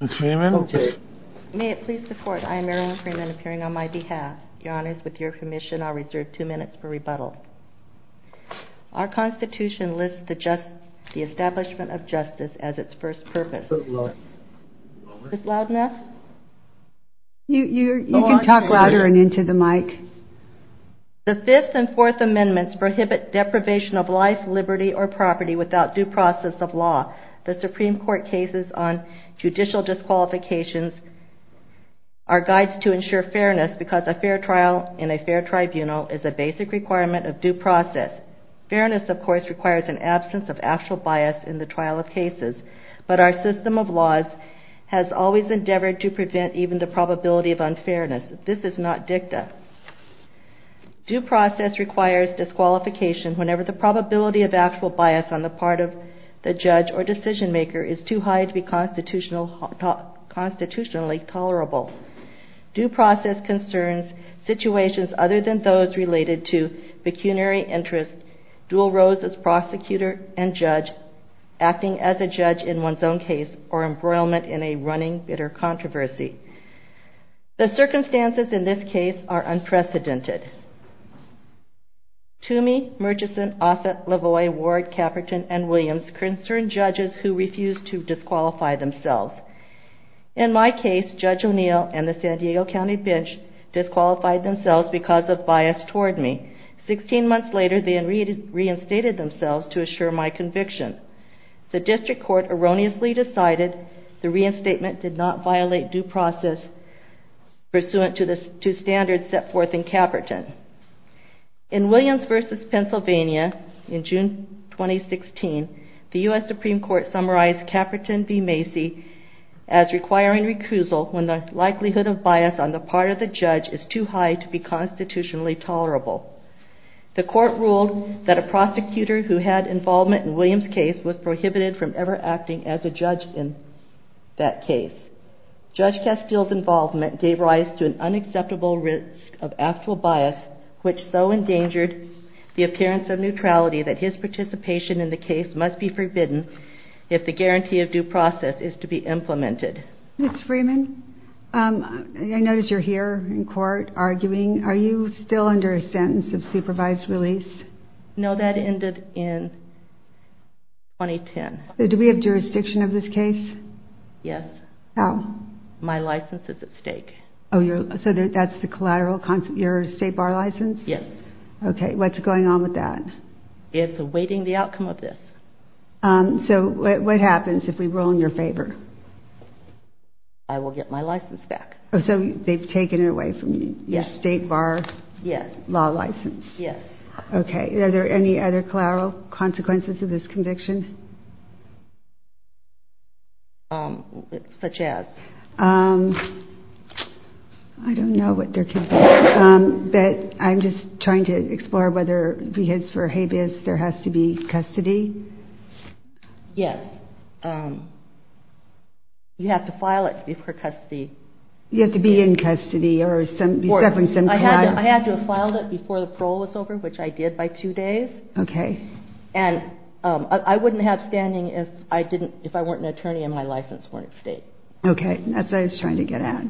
The Fifth and Fourth Amendments prohibit deprivation of life, liberty, or property without due process of law. The Supreme Court cases on judicial disqualifications are guides to ensure fairness because a fair trial in a fair tribunal is a basic requirement of due process. Fairness of course requires an absence of actual bias in the trial of cases, but our system of laws has always endeavored to prevent even the probability of unfairness. This is not dicta. Due process requires disqualification whenever the probability of actual bias on the part of the judge or decision-maker is too high to be constitutionally tolerable. Due process concerns situations other than those related to pecuniary interest, dual roles as prosecutor and judge, acting as a judge in one's own case, or embroilment in a running bitter controversy. The circumstances in this case are unprecedented. Toomey, Murchison, Offit, Lavoie, Ward, Caperton, and Williams concern judges who refuse to disqualify themselves. In my case, Judge O'Neill and the San Diego County bench disqualified themselves because of bias toward me. Sixteen months later, they reinstated themselves to assure my conviction. The district court erroneously decided the two standards set forth in Caperton. In Williams v. Pennsylvania in June 2016, the U.S. Supreme Court summarized Caperton v. Macy as requiring recusal when the likelihood of bias on the part of the judge is too high to be constitutionally tolerable. The court ruled that a prosecutor who had involvement in Williams' case was prohibited from ever acting as a judge in that case. Judge Castile's involvement gave rise to an unacceptable risk of actual bias, which so endangered the appearance of neutrality that his participation in the case must be forbidden if the guarantee of due process is to be implemented. Ms. Freeman, I notice you're here in court arguing. Are you still under a sentence of supervised release? No, that ended in 2010. Do we have jurisdiction of this case? Yes. How? My license is at stake. So that's the collateral consequence, your state bar license? Yes. Okay. What's going on with that? It's awaiting the outcome of this. So what happens if we rule in your favor? I will get my license back. So they've taken it away from you, your state bar law license? Yes. Okay. Are there any other collateral consequences of this conviction? Such as? I don't know what there could be, but I'm just trying to explore whether, because for habeas, there has to be custody. Yes. You have to file it before custody. You have to be in custody or you're suffering some collateral. I had to have filed it before the parole was over, which I did by two days. Okay. And I wouldn't have standing if I weren't an attorney and my license weren't at stake. Okay. That's what I was trying to get at.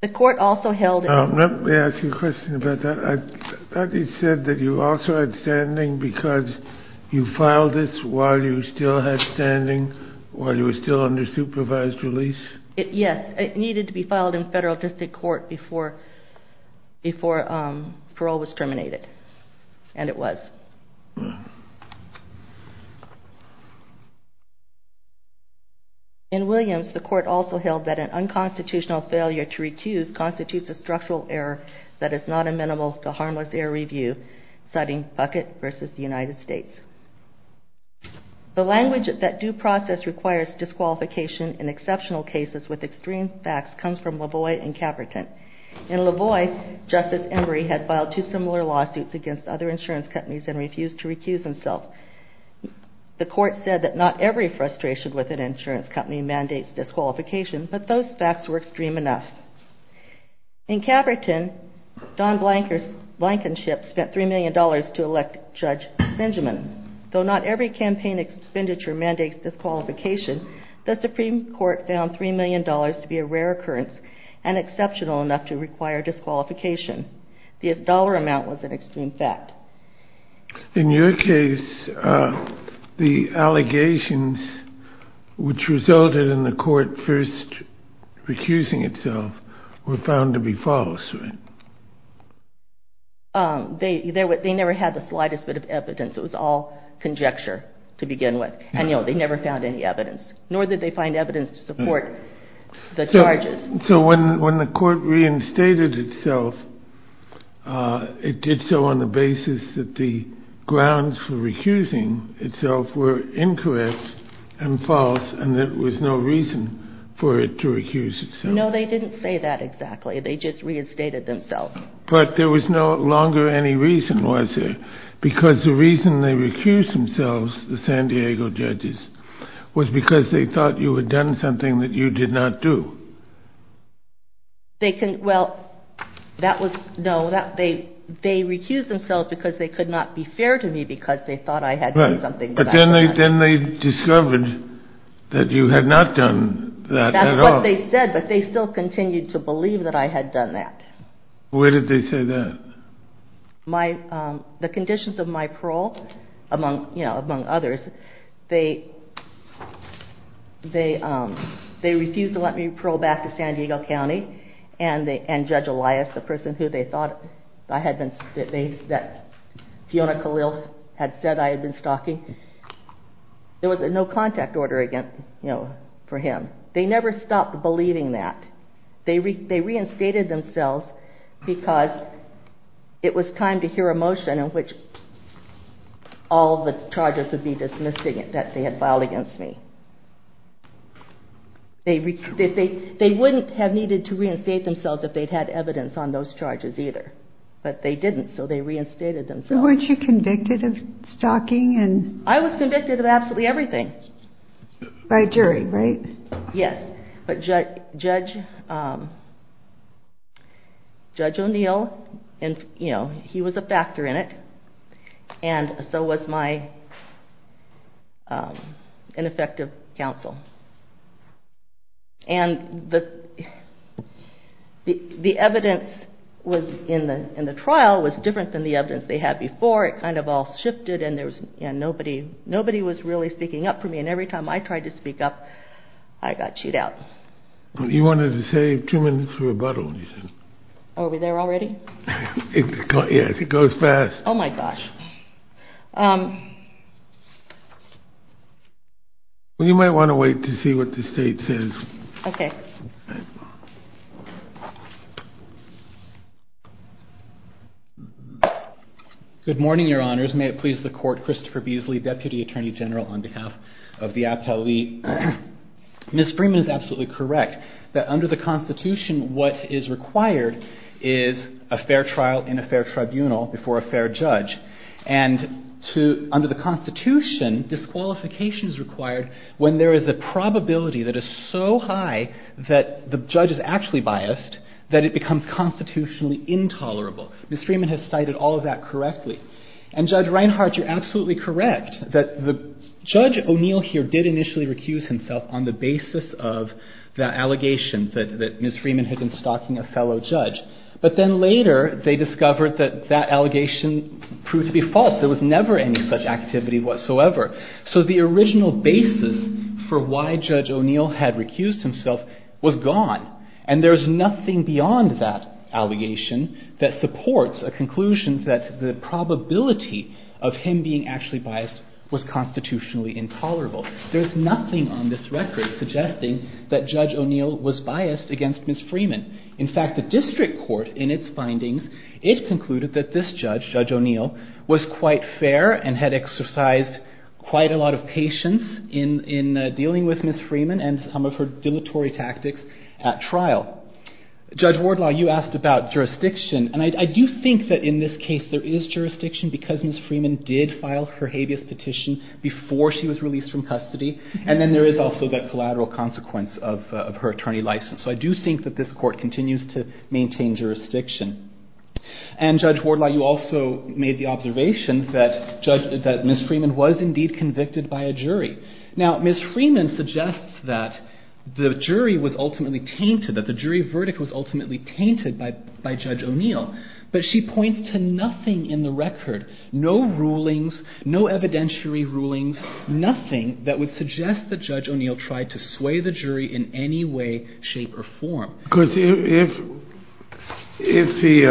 The court also held... Let me ask you a question about that. You said that you also had standing because you filed this while you still had standing, while you were still under supervised release? Yes. It needed to be filed in federal district court before parole was terminated. And it was. In Williams, the court also held that an unconstitutional failure to recuse constitutes a structural error that is not amenable to harmless error review, citing Bucket versus the United States. The language that due process requires disqualification in exceptional cases with extreme facts comes from Lavoie and Caverton. In Lavoie, Justice Emory had filed two similar lawsuits against other insurance companies and refused to recuse himself. The court said that not every frustration with an insurance company mandates disqualification, but those facts were extreme enough. In Caverton, Don Blankenship spent $3 million to elect Judge Benjamin. Though not every campaign expenditure mandates disqualification, the Supreme Court found $3 million to be a rare occurrence and exceptional enough to require disqualification. The dollar amount was an extreme fact. In your case, the allegations which resulted in the court first recusing itself were found to be false, right? They never had the slightest bit of evidence. It was all conjecture to begin with. And, you know, they never found any evidence. Nor did they find evidence to support the charges. So when the court reinstated itself, it did so on the basis that the grounds for recusing itself were incorrect and false and there was no reason for it to recuse itself. No, they didn't say that exactly. They just reinstated themselves. But there was no longer any reason, was there? Because the reason they recused themselves, the San Diego judges, was because they thought you had done something that you did not do. They can, well, that was, no. They recused themselves because they could not be fair to me because they thought I had done something. But then they discovered that you had not done that at all. But they said, but they still continued to believe that I had done that. Where did they say that? The conditions of my parole, among others, they refused to let me parole back to San Diego County and Judge Elias, the person who they thought I had been, that Fiona Khalil had said I had been stalking, there was a no contact order for him. They never stopped believing that. They reinstated themselves because it was time to hear a motion in which all the charges would be dismissed that they had filed against me. They wouldn't have needed to reinstate themselves if they'd had evidence on those charges either. But they didn't, so they reinstated themselves. Weren't you convicted of stalking? I was convicted of absolutely everything. By jury, right? Yes, but Judge O'Neill, he was a factor in it, and so was my ineffective counsel. The evidence in the trial was different than the evidence they had before. It kind of all shifted and nobody was really speaking up for me, and every time I tried to speak up, I got chewed out. You wanted to save two minutes for rebuttal. Are we there already? Yes, it goes fast. Oh my gosh. You might want to wait to see what the state says. Okay. Good morning, your honors. May it please the court, Christopher Beasley, Deputy Attorney General on behalf of the appellee. Ms. Freeman is absolutely correct that under the Constitution what is required is a fair trial in a fair tribunal before a fair judge, and under the Constitution disqualification is required when there is a probability that is so high that the judge is actually biased that it becomes constitutionally intolerable. Ms. Freeman has cited all of that correctly. And Judge Reinhart, you're absolutely correct that Judge O'Neill here did initially recuse himself on the basis of the allegation that Ms. Freeman had been stalking a fellow judge, but then later they discovered that that allegation proved to be false. There was never any such activity whatsoever. So the original basis for why Judge O'Neill had recused himself was gone, and there is nothing beyond that allegation that supports a conclusion that the probability of him being actually biased was constitutionally intolerable. There's nothing on this record suggesting that Judge O'Neill was biased against Ms. Freeman. In fact, the district court in its findings, it concluded that this judge, Judge O'Neill, was quite fair and had exercised quite a lot of patience in dealing with Ms. Freeman and some of her dilatory tactics at trial. Judge Wardlaw, you asked about jurisdiction, and I do think that in this case there is jurisdiction because Ms. Freeman did file her habeas petition before she was released from custody, and then there is also that collateral consequence of her attorney license. So I do think that this court continues to maintain jurisdiction. And Judge Wardlaw, you also made the observation that Ms. Freeman was indeed convicted by a jury. Now, Ms. Freeman suggests that the jury was ultimately tainted, that the jury verdict was ultimately tainted by Judge O'Neill, but she points to nothing in the record, no rulings, no evidentiary rulings, nothing that would suggest that Judge O'Neill tried to sway the jury in any way, shape, or form. Because if he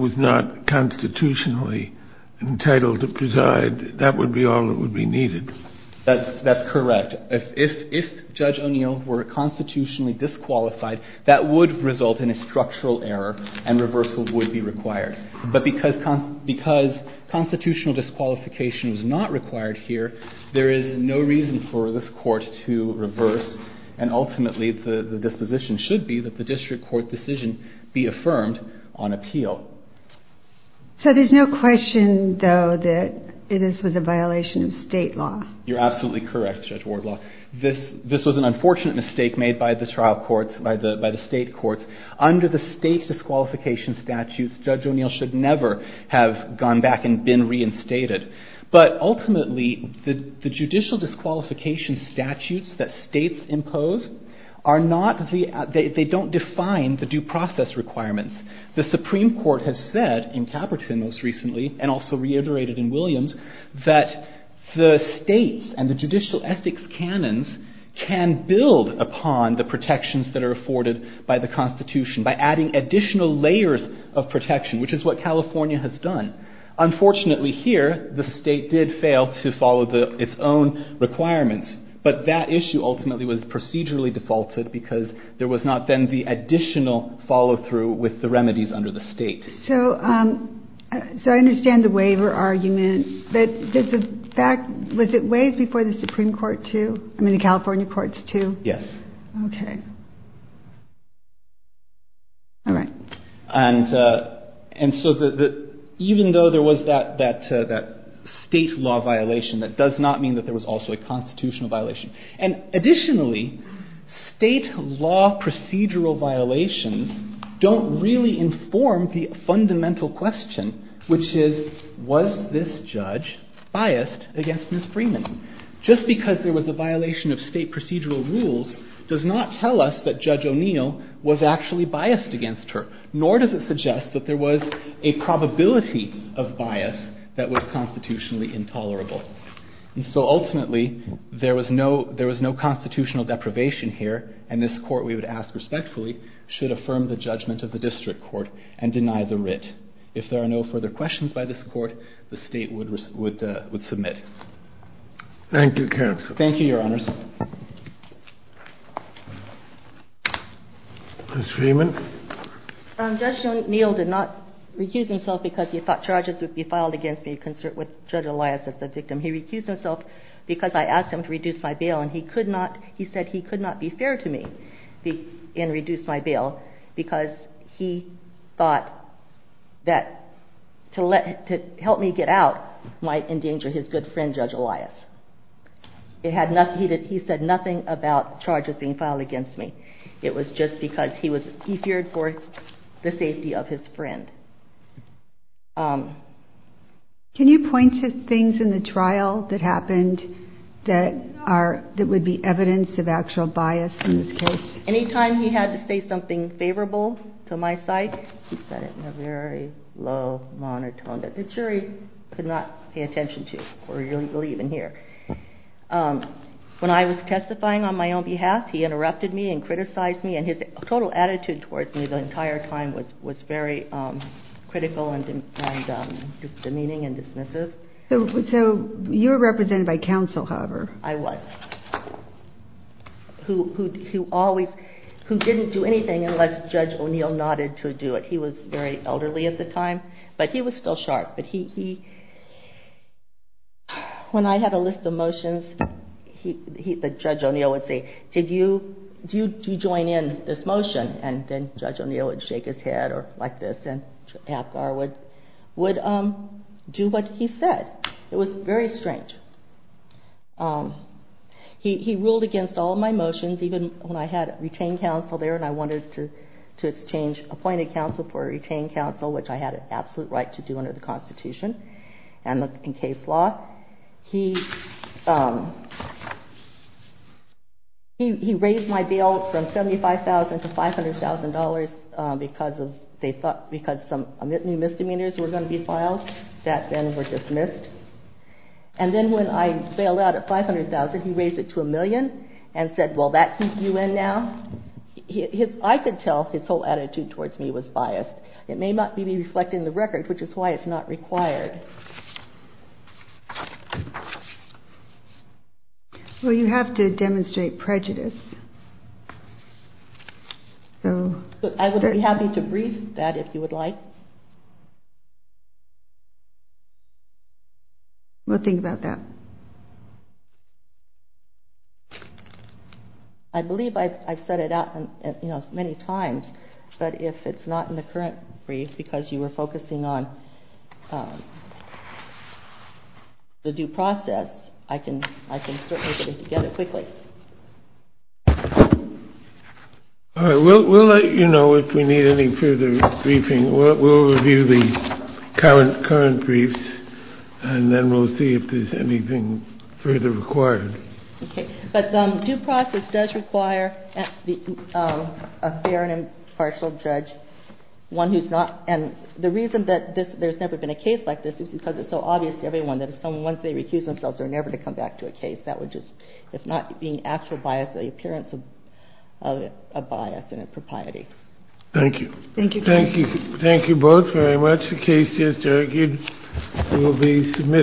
was not constitutionally entitled to preside, that would be all that would be needed. That's correct. If Judge O'Neill were constitutionally disqualified, that would result in a structural error and reversal would be required. But because constitutional disqualification was not required here, there is no reason for this court to reverse, and ultimately the disposition should be that the district court decision be affirmed on appeal. So there's no question, though, that this was a violation of state law? You're absolutely correct, Judge Wardlaw. This was an unfortunate mistake made by the trial courts, by the state courts. Under the state's disqualification statutes, Judge O'Neill should never have gone back and been reinstated. But ultimately, the judicial disqualification statutes that states impose, they don't define the due process requirements. The Supreme Court has said, in Caperton most recently, and also reiterated in Williams, that the states and the judicial ethics canons can build upon the protections that are afforded by the Constitution, by adding additional layers of protection, which is what California has done. Unfortunately here, the state did fail to follow its own requirements. But that issue ultimately was procedurally defaulted because there was not then the additional follow-through with the remedies under the state. So I understand the waiver argument. But was it waived before the Supreme Court, too? I mean, the California courts, too? Yes. OK. All right. And so even though there was that state law violation, that does not mean that there was also a constitutional violation. And additionally, state law procedural violations don't really inform the fundamental question, which is, was this judge biased against Ms. Freeman? Just because there was a violation of state procedural rules does not tell us that Judge O'Neill was actually biased against her. Nor does it suggest that there was a probability of bias that was constitutionally intolerable. And so ultimately, there was no constitutional deprivation here. And this Court, we would ask respectfully, should affirm the judgment of the district court and deny the writ. If there are no further questions by this court, the state would submit. Thank you, counsel. Thank you, Your Honors. Ms. Freeman? Judge O'Neill did not recuse himself because he thought charges would be filed against me concert with Judge Elias as the victim. He recused himself because I asked him to reduce my bail. And he said he could not be fair to me and reduce my bail because he thought that to help me get out might endanger his good friend, Judge Elias. He said nothing about charges being filed against me. It was just because he feared for the safety of his friend. Can you point to things in the trial that happened that would be evidence of actual bias in this case? Any time he had to say something favorable to my side, he said it in a very low, monotone, that the jury could not pay attention to or really believe in here. When I was testifying on my own behalf, he interrupted me and criticized me. And his total attitude towards me the entire time was very critical and demeaning and dismissive. So you were represented by counsel, however. I was. Who didn't do anything unless Judge O'Neill nodded to do it. He was very elderly at the time. But he was still sharp. When I had a list of motions, Judge O'Neill would say, did you join in this motion? And then Judge O'Neill would shake his head like this and Apgar would do what he said. It was very strange. He ruled against all of my motions, even when I had retained counsel there and I wanted to exchange appointed counsel for a retained counsel, which I had an absolute right to do under the Constitution and in case law. He raised my bail from $75,000 to $500,000 because some misdemeanors were going to be filed that then were dismissed. And then when I bailed out at $500,000, he raised it to a million and said, will that keep you in now? I could tell his whole attitude towards me was biased. It may not be reflecting the record, which is why it's not required. Well, you have to demonstrate prejudice. I would be happy to brief that if you would like. We'll think about that. I believe I've said it many times, but if it's not in the current brief because you were focusing on the due process, I can certainly get it quickly. We'll let you know if we need any further briefing. We'll review the current briefs and then we'll see if there's anything further required. Okay. But due process does require a fair and impartial judge, one who's not... And the reason that there's never been a case like this is because it's so obvious to everyone that once they recuse themselves, they're never to come back to a case. That would just, if not being actual bias, the appearance of bias and impropriety. Thank you. Thank you. Thank you. Thank you both very much. The case is adjourned. You will be submitted.